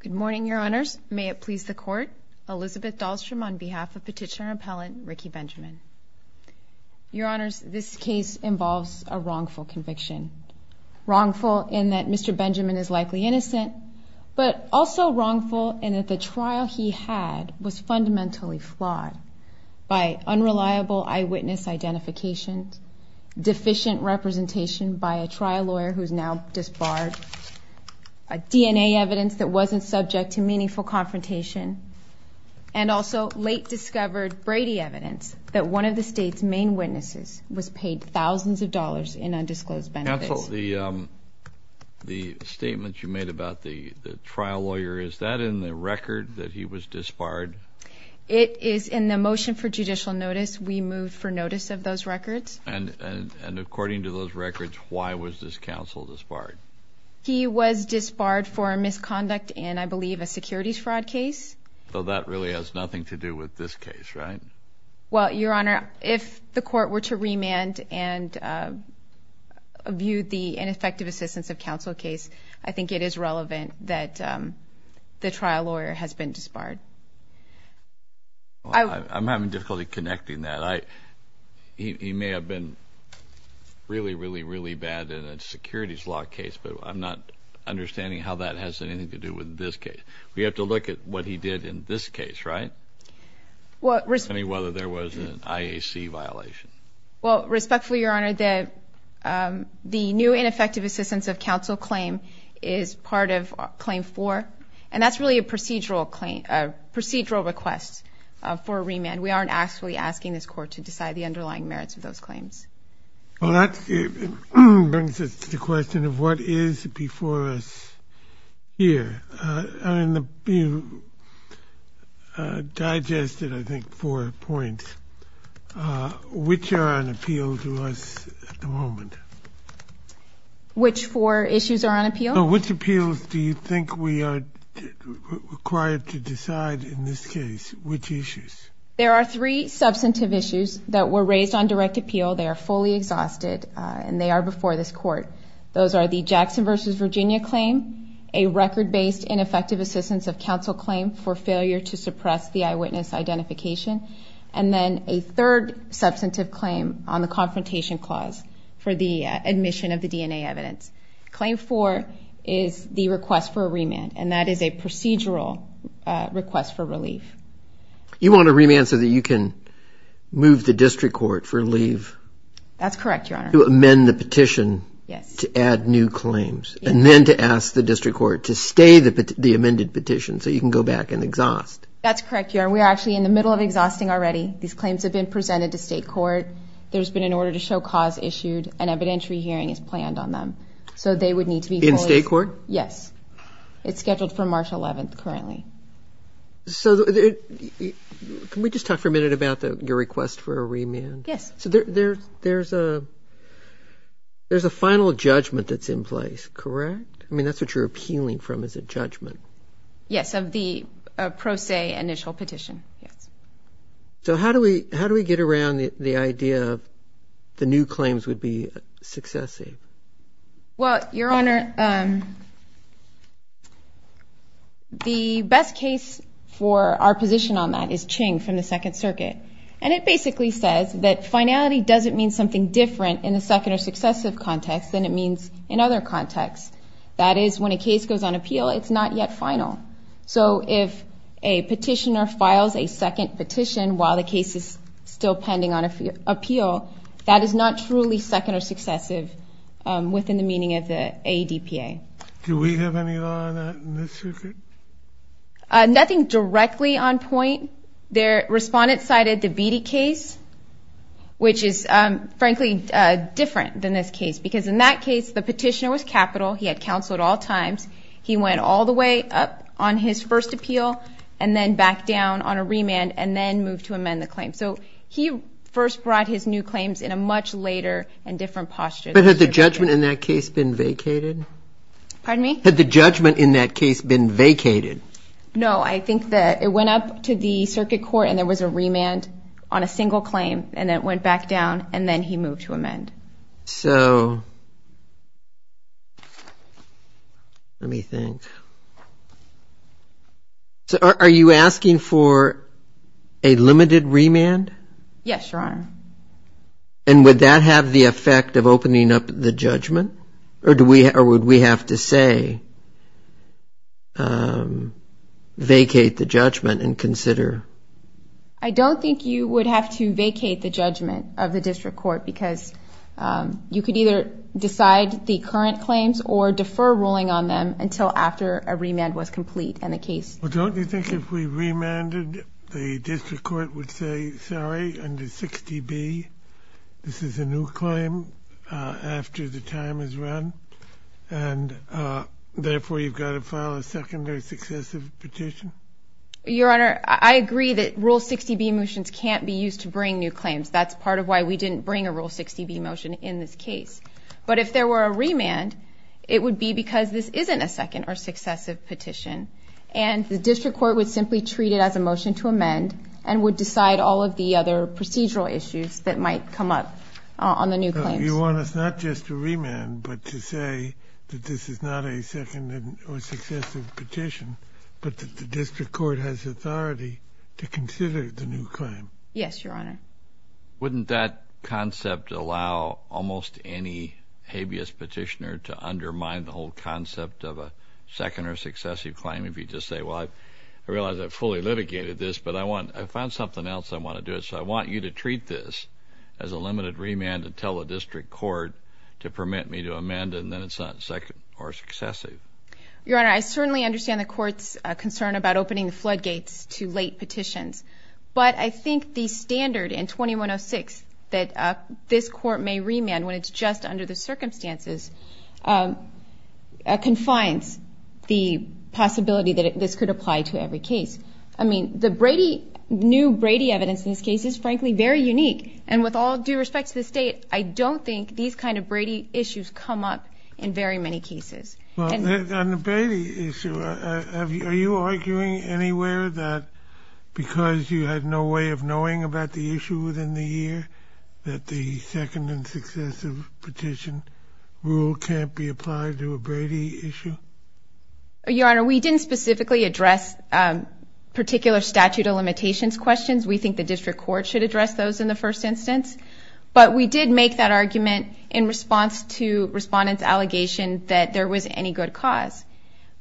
Good morning, Your Honors. May it please the Court, Elizabeth Dahlstrom on behalf of Petitioner Appellant Ricky Benjamin. Your Honors, this case involves a wrongful conviction. Wrongful in that Mr. Benjamin is likely innocent, but also wrongful in that the trial he had was sufficient representation by a trial lawyer who is now disbarred, DNA evidence that wasn't subject to meaningful confrontation, and also late-discovered Brady evidence that one of the state's main witnesses was paid thousands of dollars in undisclosed benefits. Counsel, the statement you made about the trial lawyer, is that in the record that he was disbarred? It is in the motion for judicial notice. We moved for notice of those records. And according to those records, why was this counsel disbarred? He was disbarred for misconduct in, I believe, a securities fraud case. So that really has nothing to do with this case, right? Well, Your Honor, if the Court were to remand and view the ineffective assistance of counsel case, I think it is relevant that the trial lawyer has been disbarred. I'm having difficulty connecting that. He may have been really, really, really bad in a securities law case, but I'm not understanding how that has anything to do with this case. We have to look at what he did in this case, right? Well, respectfully, Your Honor, the new ineffective assistance of counsel claim is part of claim 4, and that's really a procedural request for a remand. We aren't actually asking this Court to decide the underlying merits of those claims. Well, that brings us to the question of what is before us here. I mean, you digested, I think, four points. Which are on appeal to us at the moment? Which four issues are on appeal? Which appeals do you think we are required to decide in this case? Which issues? There are three substantive issues that were raised on direct appeal. They are fully exhausted, and they are before this Court. Those are the Jackson v. Virginia claim, a record-based ineffective assistance of counsel claim for failure to suppress the eyewitness identification, and then a third substantive claim on the confrontation clause for the admission of the DNA evidence. Claim 4 is the request for a remand, and that is a procedural request for relief. You want a remand so that you can move the district court for leave? That's correct, Your Honor. To amend the petition to add new claims, and then to ask the district court to stay the amended petition so you can go back and exhaust. That's correct, Your Honor. We're actually in the middle of exhausting already. These claims have been presented to state court. There's been an order to show cause issued. An evidentiary hearing is planned on them, so they would need to be fully... In state court? Yes. It's scheduled for March 11th currently. So can we just talk for a minute about your request for a remand? Yes. So there's a final judgment that's in place, correct? I mean, that's what you're appealing from is a judgment. Yes, of the pro se initial petition, yes. So how do we get around the idea of the new claims would be successive? Well, Your Honor, the best case for our position on that is Ching from the Second Circuit, and it basically says that finality doesn't mean something different in a second or successive context than it means in other contexts. That is when a case goes on appeal, it's not yet final. So if a petitioner files a second petition while the case is still pending on appeal, that is not truly second or successive within the meaning of the ADPA. Do we have any law on that in this circuit? Nothing directly on point. The respondent cited the Beattie case, which is frankly different than this case because in that case, the petitioner was capital. He had counsel at all times. He went all the way up on his first appeal and then back down on a remand and then moved to amend the claim. So he first brought his new claims in a much later and different posture. But had the judgment in that case been vacated? Pardon me? Had the judgment in that case been vacated? No, I think that it went up to the circuit court and there was a remand on a single claim and then it went back down and then he moved to amend. So let me think. So are you asking for a limited remand? Yes, Your Honor. And would that have the effect of opening up the judgment? Or would we have to say vacate the judgment and consider? I don't think you would have to vacate the judgment of the district court because you could either decide the current claims or defer ruling on them until after a remand was complete in the case. Well, don't you think if we remanded, the district court would say, sorry, under 60B, this is a new claim after the time is run and therefore you've got to file a secondary successive petition? Your Honor, I agree that Rule 60B motions can't be used to bring new claims. That's part of why we didn't bring a Rule 60B motion in this case. But if there were a remand, it would be because this isn't a second or successive petition and the district court would simply treat it as a motion to amend and would decide all of the other procedural issues that might come up on the new claims. You want us not just to remand but to say that this is not a second or successive petition but that the district court has authority to consider the new claim? Yes, Your Honor. Wouldn't that concept allow almost any habeas petitioner to undermine the whole concept of a second or successive claim if you just say, well, I realize I've fully litigated this, but I found something else I want to do, so I want you to treat this as a limited remand and tell the district court to permit me to amend and then it's not second or successive. Your Honor, I certainly understand the court's concern about opening the floodgates to late petitions, but I think the standard in 2106 that this court may remand when it's just under the circumstances confines the possibility that this could apply to every case. I mean, the new Brady evidence in this case is, frankly, very unique. And with all due respect to the state, I don't think these kind of Brady issues come up in very many cases. Well, on the Brady issue, are you arguing anywhere that because you had no way of knowing about the issue within the year that the second and successive petition rule can't be applied to a Brady issue? Your Honor, we didn't specifically address particular statute of limitations questions. We think the district court should address those in the first instance. But we did make that argument in response to respondents' allegation that there was any good cause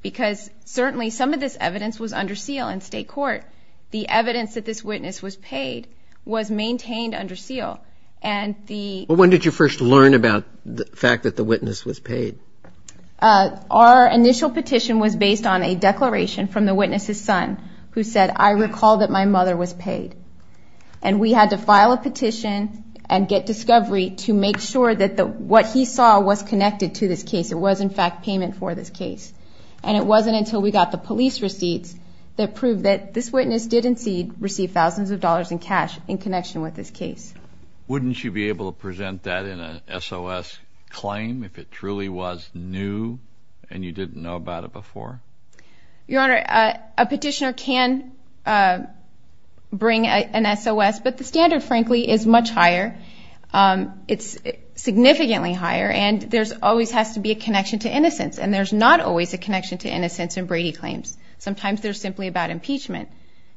because certainly some of this evidence was under seal in state court. The evidence that this witness was paid was maintained under seal. When did you first learn about the fact that the witness was paid? Our initial petition was based on a declaration from the witness's son who said, I recall that my mother was paid. And we had to file a petition and get discovery to make sure that what he saw was connected to this case. It was, in fact, payment for this case. And it wasn't until we got the police receipts that proved that this witness didn't receive thousands of dollars in cash in connection with this case. Wouldn't you be able to present that in an SOS claim if it truly was new and you didn't know about it before? Your Honor, a petitioner can bring an SOS. But the standard, frankly, is much higher. It's significantly higher. And there always has to be a connection to innocence. And there's not always a connection to innocence in Brady claims. Sometimes they're simply about impeachment.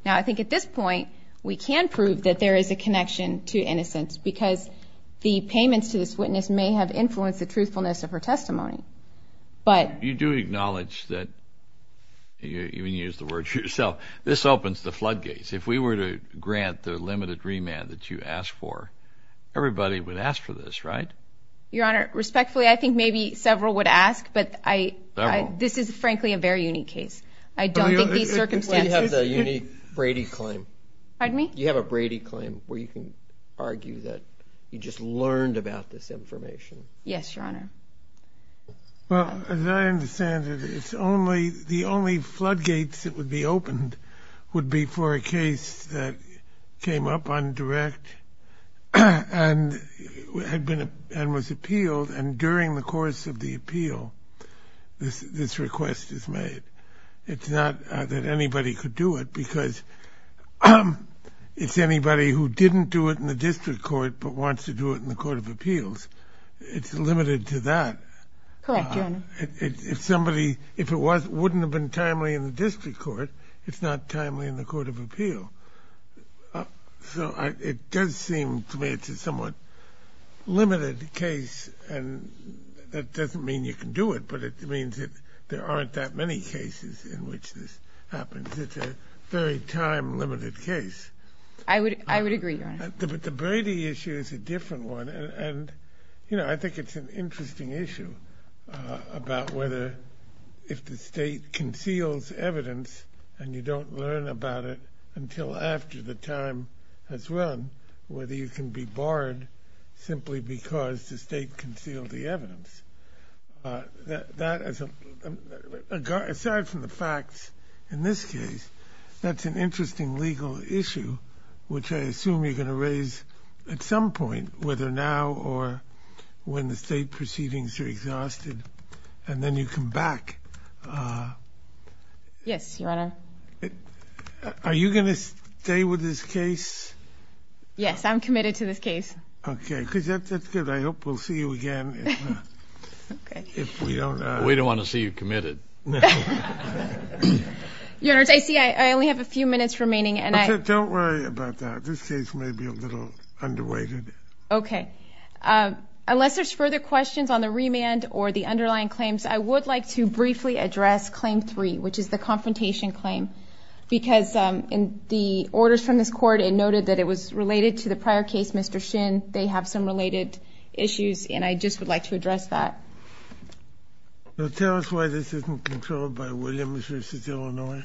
Now, I think at this point we can prove that there is a connection to innocence because the payments to this witness may have influenced the truthfulness of her testimony. You do acknowledge that, you even used the word yourself, this opens the floodgates. If we were to grant the limited remand that you asked for, everybody would ask for this, right? Your Honor, respectfully, I think maybe several would ask. But this is, frankly, a very unique case. I don't think these circumstances. You have the unique Brady claim. Pardon me? You have a Brady claim where you can argue that you just learned about this information. Yes, Your Honor. Well, as I understand it, the only floodgates that would be opened would be for a case that came up on direct and was appealed. And during the course of the appeal, this request is made. It's not that anybody could do it because it's anybody who didn't do it in the district court but wants to do it in the court of appeals. It's limited to that. Correct, Your Honor. If somebody, if it wasn't, wouldn't have been timely in the district court, it's not timely in the court of appeal. So it does seem to me it's a somewhat limited case. And that doesn't mean you can do it, but it means that there aren't that many cases in which this happens. I would agree, Your Honor. But the Brady issue is a different one. And, you know, I think it's an interesting issue about whether if the state conceals evidence and you don't learn about it until after the time has run, whether you can be barred simply because the state concealed the evidence. Aside from the facts in this case, that's an interesting legal issue, which I raise at some point, whether now or when the state proceedings are exhausted, and then you come back. Yes, Your Honor. Are you going to stay with this case? Yes, I'm committed to this case. Okay, because that's good. I hope we'll see you again if we don't. We don't want to see you committed. Your Honor, I see I only have a few minutes remaining. Okay, don't worry about that. This case may be a little underrated. Okay. Unless there's further questions on the remand or the underlying claims, I would like to briefly address Claim 3, which is the confrontation claim, because in the orders from this Court, it noted that it was related to the prior case, Mr. Shin. They have some related issues, and I just would like to address that. Tell us why this isn't controlled by Williams v. Illinois.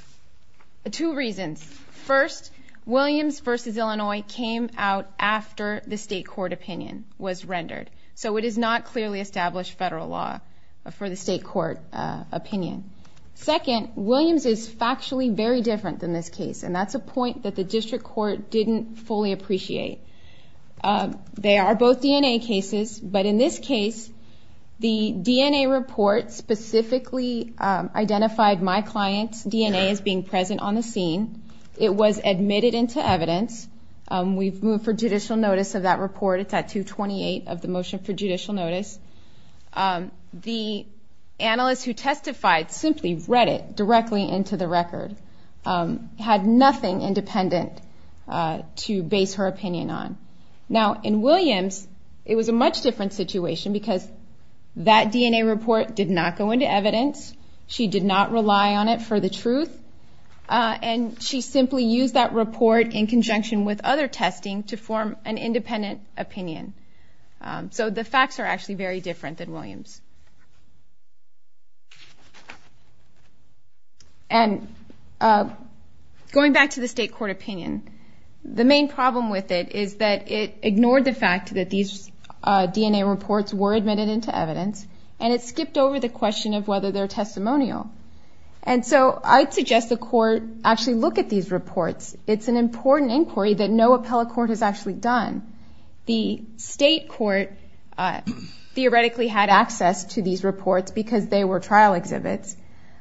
Two reasons. First, Williams v. Illinois came out after the state court opinion was rendered, so it does not clearly establish federal law for the state court opinion. Second, Williams is factually very different than this case, and that's a point that the district court didn't fully appreciate. They are both DNA cases, but in this case, the DNA report specifically identified my client's DNA as being present on the record. It was admitted into evidence. We've moved for judicial notice of that report. It's at 228 of the motion for judicial notice. The analyst who testified simply read it directly into the record, had nothing independent to base her opinion on. Now, in Williams, it was a much different situation, because that DNA report did not go into evidence. She did not rely on it for the truth, and she simply used that report in conjunction with other testing to form an independent opinion. So the facts are actually very different than Williams. And going back to the state court opinion, the main problem with it is that it ignored the fact that these DNA reports were admitted into evidence, and it skipped over the question of whether they're testimonial. And so I'd suggest the court actually look at these reports. It's an important inquiry that no appellate court has actually done. The state court theoretically had access to these reports because they were trial exhibits,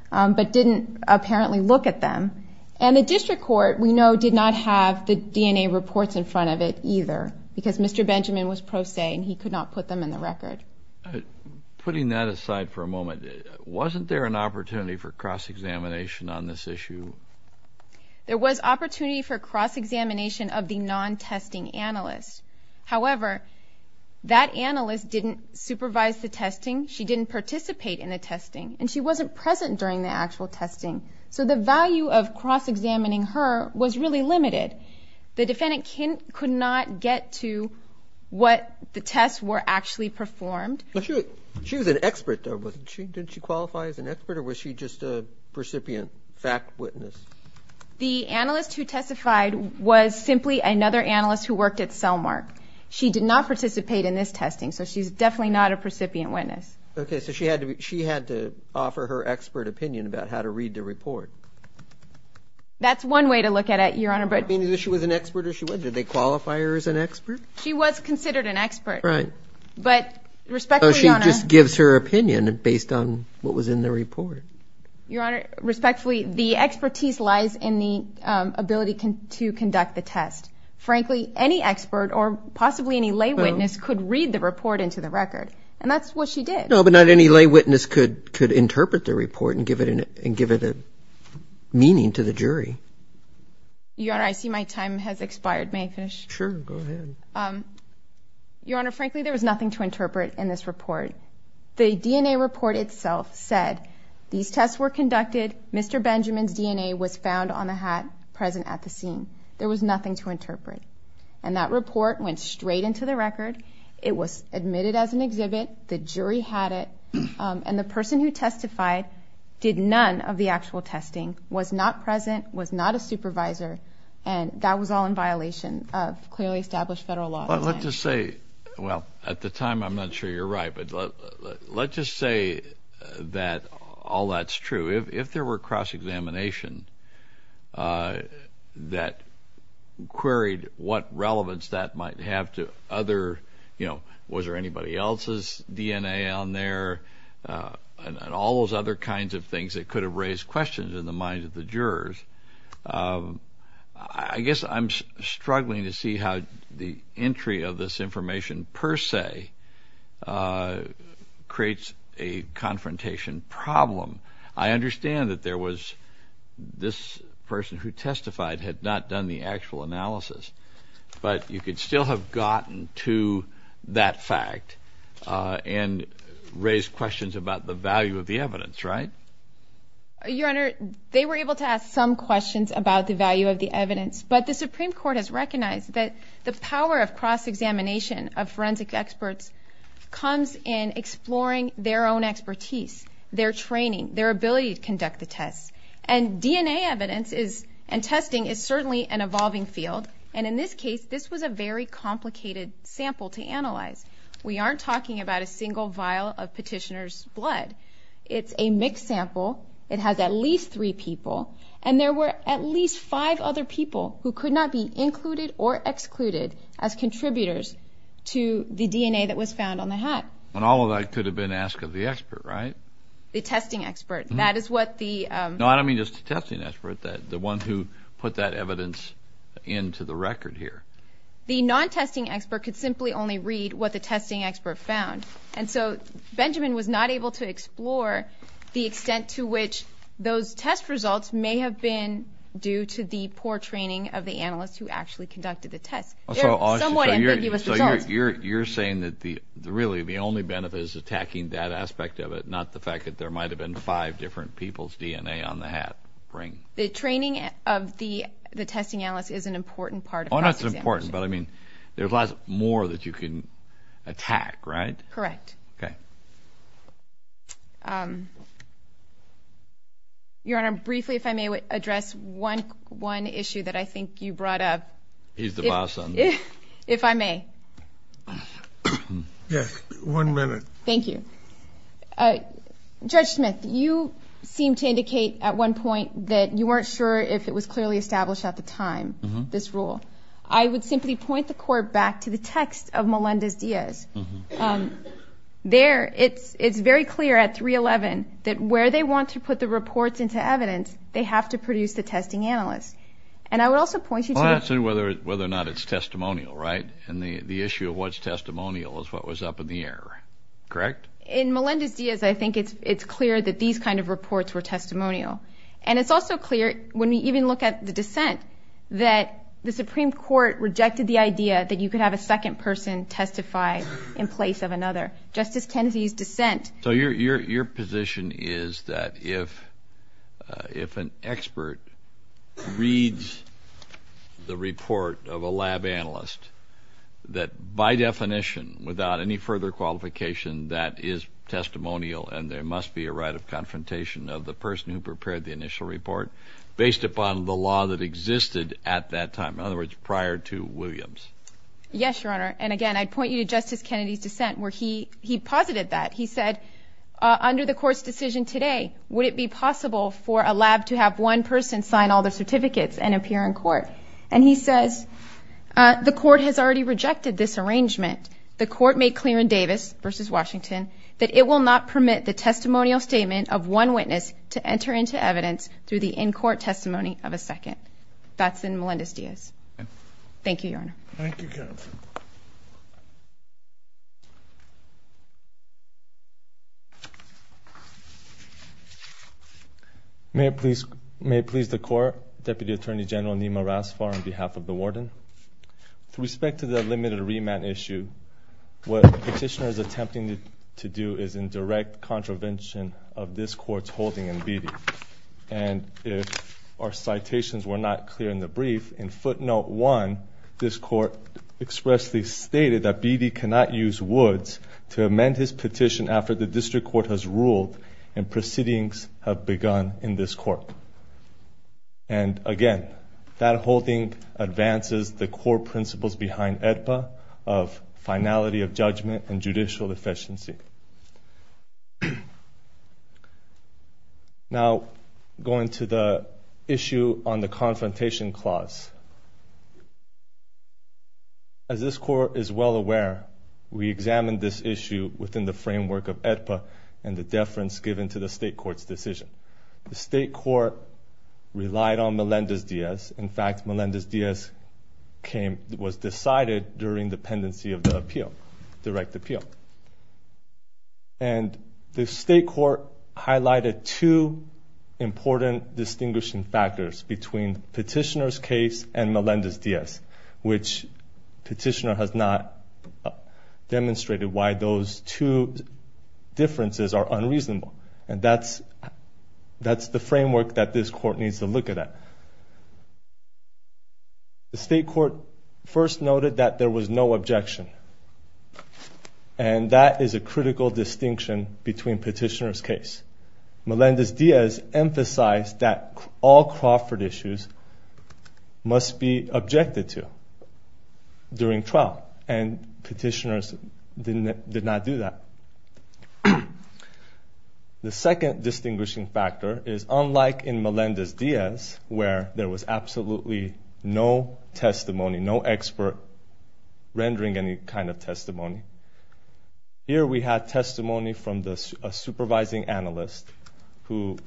but didn't apparently look at them. And the district court, we know, did not have the DNA reports in front of it either, because Mr. Benjamin was pro se, and he could not put them in the record. Putting that aside for a moment, wasn't there an opportunity for cross-examination on this issue? There was opportunity for cross-examination of the non-testing analyst. However, that analyst didn't supervise the testing. She didn't participate in the testing, and she wasn't present during the actual testing. So the value of cross-examining her was really limited. The defendant could not get to what the tests were actually performed. She was an expert, though. Didn't she qualify as an expert, or was she just a precipient fact witness? The analyst who testified was simply another analyst who worked at Cellmark. She did not participate in this testing, so she's definitely not a precipient witness. Okay, so she had to offer her expert opinion about how to read the report. That's one way to look at it, Your Honor. Does that mean that she was an expert or she wasn't? Did they qualify her as an expert? She was considered an expert. Right. She just gives her opinion based on what was in the report. Your Honor, respectfully, the expertise lies in the ability to conduct the test. Frankly, any expert or possibly any lay witness could read the report into the record, and that's what she did. No, but not any lay witness could interpret the report and give it meaning to the jury. Your Honor, I see my time has expired. May I finish? Sure, go ahead. Your Honor, frankly, there was nothing to interpret in this report. The DNA report itself said these tests were conducted, Mr. Benjamin's DNA was found on the hat present at the scene. There was nothing to interpret. And that report went straight into the record. It was admitted as an exhibit. The jury had it. And the person who testified did none of the actual testing, was not present, was not a supervisor, and that was all in violation of clearly established federal law. Let's just say, well, at the time I'm not sure you're right, but let's just say that all that's true. If there were cross-examination that queried what relevance that might have to other, you know, was there anybody else's DNA on there and all those other kinds of things that could have raised questions in the minds of the jurors, I guess I'm struggling to see how the entry of this information per se creates a confrontation problem. I understand that there was this person who testified had not done the actual analysis, but you could still have gotten to that fact and raised questions about the value of the evidence, right? Your Honor, they were able to ask some questions about the value of the evidence, but the Supreme Court has recognized that the power of cross-examination of forensic experts comes in exploring their own expertise, their training, their ability to conduct the tests. And DNA evidence and testing is certainly an evolving field, and in this case, this was a very complicated sample to analyze. We aren't talking about a single vial of petitioner's blood. It's a mixed sample. It has at least three people, and there were at least five other people who could not be included or excluded as contributors to the DNA that was found on the hat. And all of that could have been asked of the expert, right? The testing expert. That is what the ‑‑ No, I don't mean just the testing expert. The one who put that evidence into the record here. The non-testing expert could simply only read what the testing expert found. And so Benjamin was not able to explore the extent to which those test results may have been due to the poor training of the analyst who actually conducted the test. So you're saying that really the only benefit is attacking that aspect of it, not the fact that there might have been five different people's DNA on the hat ring? The training of the testing analyst is an important part of that. Oh, that's important, but, I mean, there's lots more that you can attack, right? Correct. Okay. Your Honor, briefly, if I may address one issue that I think you brought up. He's the boss. If I may. Yes, one minute. Thank you. Judge Smith, you seemed to indicate at one point that you weren't sure if it was clearly established at the time, this rule. I would simply point the Court back to the text of Melendez-Diaz. There, it's very clear at 311 that where they want to put the reports into evidence, they have to produce the testing analyst. And I would also point you to ‑‑ Well, that's whether or not it's testimonial, right? And the issue of what's testimonial is what was up in the air, correct? In Melendez-Diaz, I think it's clear that these kind of reports were testimonial. And it's also clear, when we even look at the dissent, that the Supreme Court rejected the idea that you could have a second person testify in place of another. Justice Kennedy's dissent. So your position is that if an expert reads the report of a lab analyst, that by definition, without any further qualification, that is testimonial and there must be a right of confrontation of the person who prepared the initial report based upon the law that existed at that time. In other words, prior to Williams. Yes, Your Honor. And again, I'd point you to Justice Kennedy's dissent where he posited that. He said, under the Court's decision today, would it be possible for a lab to have one person sign all the certificates and appear in court? And he says, the Court has already rejected this arrangement. The Court made clear in Davis v. Washington that it will not permit the testimonial statement of one witness to enter into evidence through the in‑court testimony of a second. That's in Melendez-Diaz. Thank you, Your Honor. Thank you, counsel. May it please the Court. Deputy Attorney General Nima Rasfar on behalf of the warden. With respect to the limited remand issue, what the petitioner is attempting to do is in direct contravention of this Court's holding in Beattie. And if our citations were not clear in the brief, in footnote 1, this Court expressly stated that Beattie cannot use Woods to amend his petition after the District Court has ruled and proceedings have begun in this Court. And again, that holding advances the core principles behind AEDPA of finality of judgment and judicial efficiency. Now, going to the issue on the confrontation clause. As this Court is well aware, we examined this issue within the framework of AEDPA and the deference given to the State Court's decision. The State Court relied on Melendez-Diaz. In fact, Melendez-Diaz was decided during the pendency of the appeal, direct appeal. And the State Court highlighted two important distinguishing factors between Petitioner's case and Melendez-Diaz, which Petitioner has not demonstrated why those two differences are unreasonable. And that's the framework that this Court needs to look at. The State Court first noted that there was no objection, and that is a critical distinction between Petitioner's case. Melendez-Diaz emphasized that all Crawford issues must be objected to during trial, and Petitioner's did not do that. The second distinguishing factor is unlike in Melendez-Diaz, where there was absolutely no testimony, no expert rendering any kind of testimony. Here we had testimony from a supervising analyst who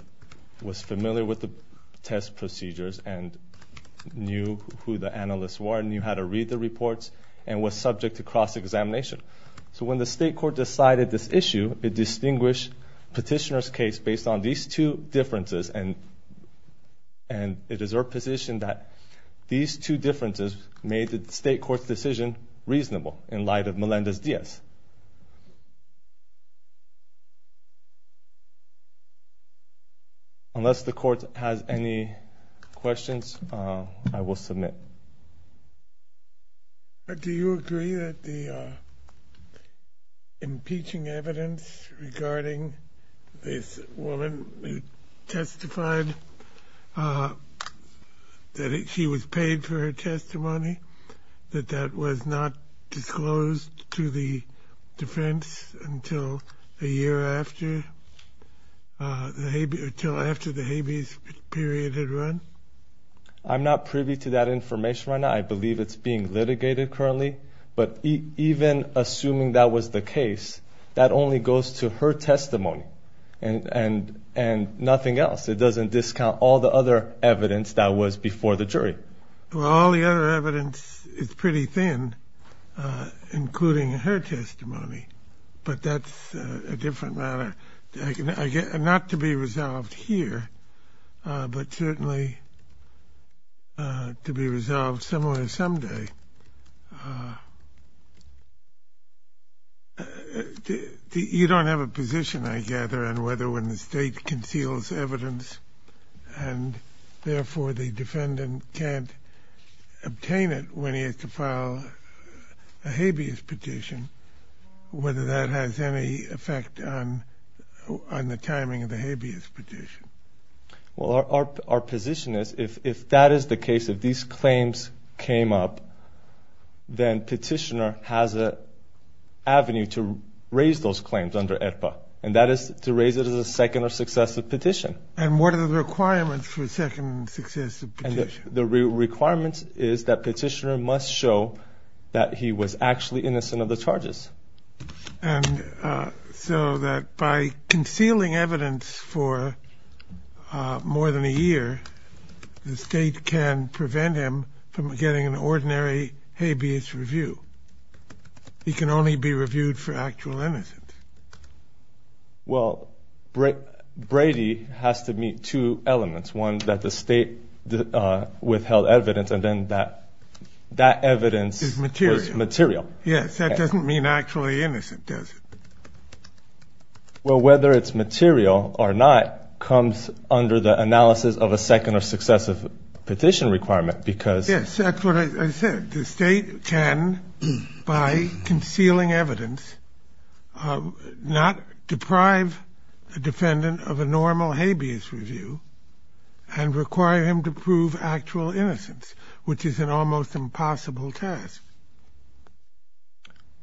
was familiar with the test procedures and knew who the analysts were, knew how to read the reports, and was subject to cross-examination. So when the State Court decided this issue, it distinguished Petitioner's case based on these two differences, and it is our position that these two differences made the State Court's decision reasonable in light of Melendez-Diaz. Unless the Court has any questions, I will submit. Do you agree that the impeaching evidence regarding this woman testified that she was paid for her testimony, that that was not disclosed to the defense until a year after the habeas period had run? I'm not privy to that information right now. I believe it's being litigated currently, but even assuming that was the case, that only goes to her testimony and nothing else. It doesn't discount all the other evidence that was before the jury. Well, all the other evidence is pretty thin, including her testimony, but that's a different matter, not to be resolved here, but certainly to be resolved somewhere someday. You don't have a position, I gather, on whether when the State conceals evidence and therefore the defendant can't obtain it when he has to file a habeas petition, whether that has any effect on the timing of the habeas petition? Well, our position is if that is the case, if these claims came up, then Petitioner has an avenue to raise those claims under EPA, and that is to raise it as a second or successive petition. And what are the requirements for a second successive petition? The requirements is that Petitioner must show that he was actually innocent of the charges. And so that by concealing evidence for more than a year, the State can prevent him from getting an ordinary habeas review. He can only be reviewed for actual innocence. Well, Brady has to meet two elements, one that the State withheld evidence, and then that evidence was material. Yes, that doesn't mean actually innocent, does it? Well, whether it's material or not comes under the analysis of a second or successive petition requirement, because... You cannot deprive a defendant of a normal habeas review and require him to prove actual innocence, which is an almost impossible task.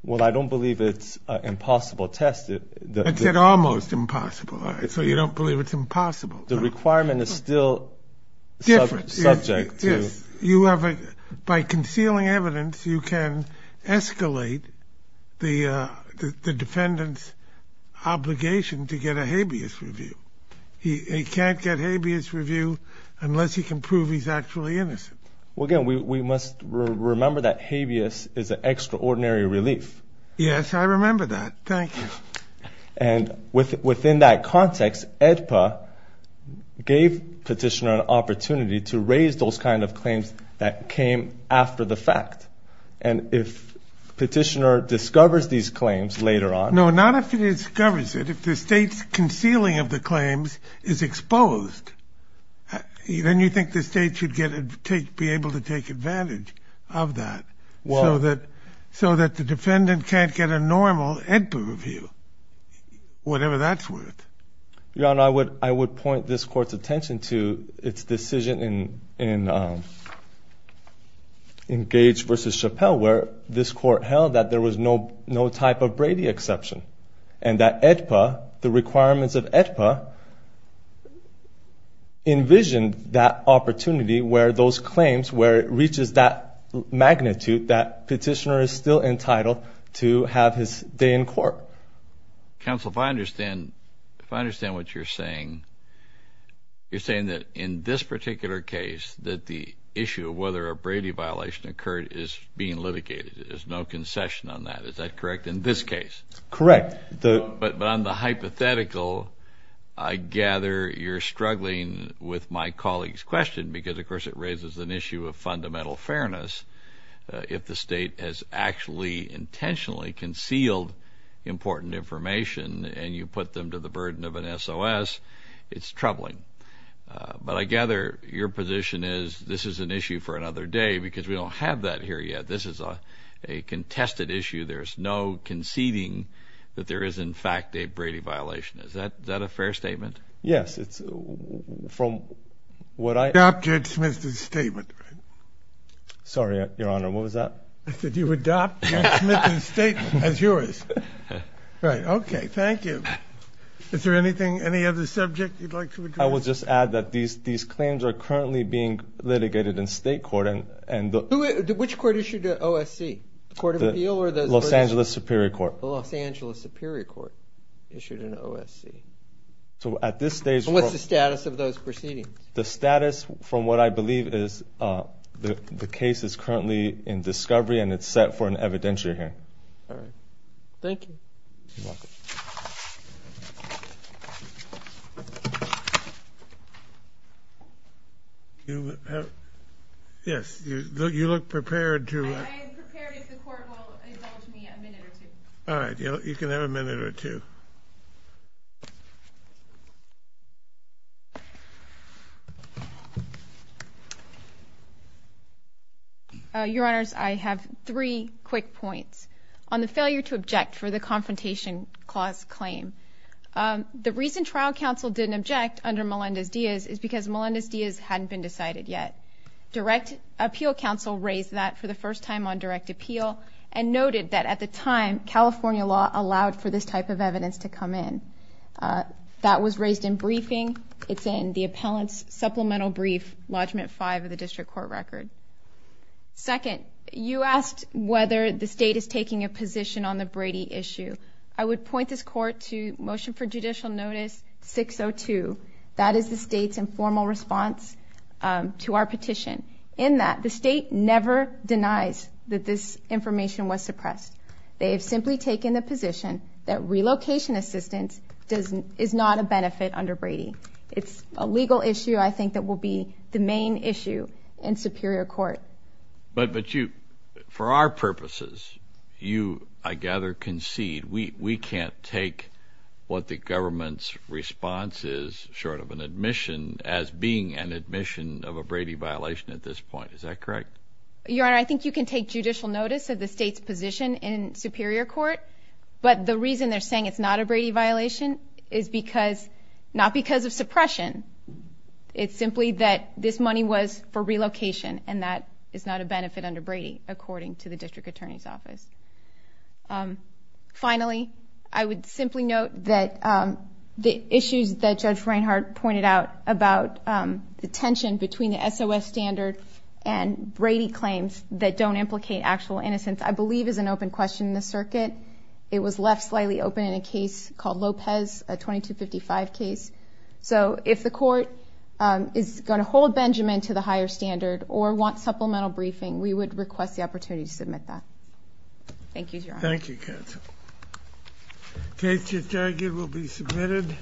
Well, I don't believe it's an impossible test. It's almost impossible, so you don't believe it's impossible. The requirement is still subject to... obligation to get a habeas review. He can't get habeas review unless he can prove he's actually innocent. Well, again, we must remember that habeas is an extraordinary relief. Yes, I remember that. Thank you. And within that context, AEDPA gave Petitioner an opportunity to raise those kind of claims that came after the fact. And if Petitioner discovers these claims later on... No, not if he discovers it. If the State's concealing of the claims is exposed, then you think the State should be able to take advantage of that so that the defendant can't get a normal AEDPA review, whatever that's worth. Your Honor, I would point this Court's attention to its decision in Gage v. Chappelle, where this Court held that there was no type of Brady exception, and that AEDPA, the requirements of AEDPA, envisioned that opportunity where those claims, where it reaches that magnitude that Petitioner is still entitled to have his day in court. Counsel, if I understand what you're saying, you're saying that in this particular case, that the issue of whether a Brady violation occurred is being litigated. There's no concession on that. Is that correct in this case? Correct. But on the hypothetical, I gather you're struggling with my colleague's question, because, of course, it raises an issue of fundamental fairness. If the State has actually intentionally concealed important information and you put them to the burden of an SOS, it's troubling. But I gather your position is this is an issue for another day, because we don't have that here yet. This is a contested issue. There's no conceding that there is, in fact, a Brady violation. Is that a fair statement? Yes. Adopted Smith's statement. Sorry, Your Honor. What was that? I said you adopted Smith's statement as yours. Right. Okay. Thank you. Is there anything, any other subject you'd like to address? I will just add that these claims are currently being litigated in State court. Which court issued an OSC? The Court of Appeal or the Los Angeles Superior Court? The Los Angeles Superior Court issued an OSC. So at this stage, what's the status of those proceedings? The status, from what I believe, is the case is currently in discovery and it's set for an evidentiary hearing. All right. Thank you. You're welcome. Yes, you look prepared to… I am prepared if the court will indulge me a minute or two. All right. You can have a minute or two. Your Honors, I have three quick points. On the failure to object for the Confrontation Clause claim, the reason trial counsel didn't object under Melendez-Diaz is because Melendez-Diaz hadn't been decided yet. Direct Appeal Counsel raised that for the first time on direct appeal and noted that at the time, California law allowed for this type of evidence to come in. That was raised in briefing. It's in the Appellant's Supplemental Brief, Lodgement 5 of the District Court Record. Second, you asked whether the state is taking a position on the Brady issue. I would point this court to Motion for Judicial Notice 602. That is the state's informal response to our petition. In that, the state never denies that this information was suppressed. They have simply taken the position that relocation assistance is not a benefit under Brady. It's a legal issue, I think, that will be the main issue in Superior Court. But you, for our purposes, you, I gather, concede we can't take what the government's response is short of an admission as being an admission of a Brady violation at this point. Is that correct? Your Honor, I think you can take judicial notice of the state's position in Superior Court, but the reason they're saying it's not a Brady violation is because, not because of suppression, it's simply that this money was for relocation and that is not a benefit under Brady, according to the District Attorney's Office. Finally, I would simply note that the issues that Judge Reinhart pointed out about the tension between the SOS standard and Brady claims that don't implicate actual innocence, I believe is an open question in the circuit. It was left slightly open in a case called Lopez, a 2255 case. So if the court is going to hold Benjamin to the higher standard or want supplemental briefing, we would request the opportunity to submit that. Thank you, Your Honor. Thank you, counsel. The case to be argued will be submitted.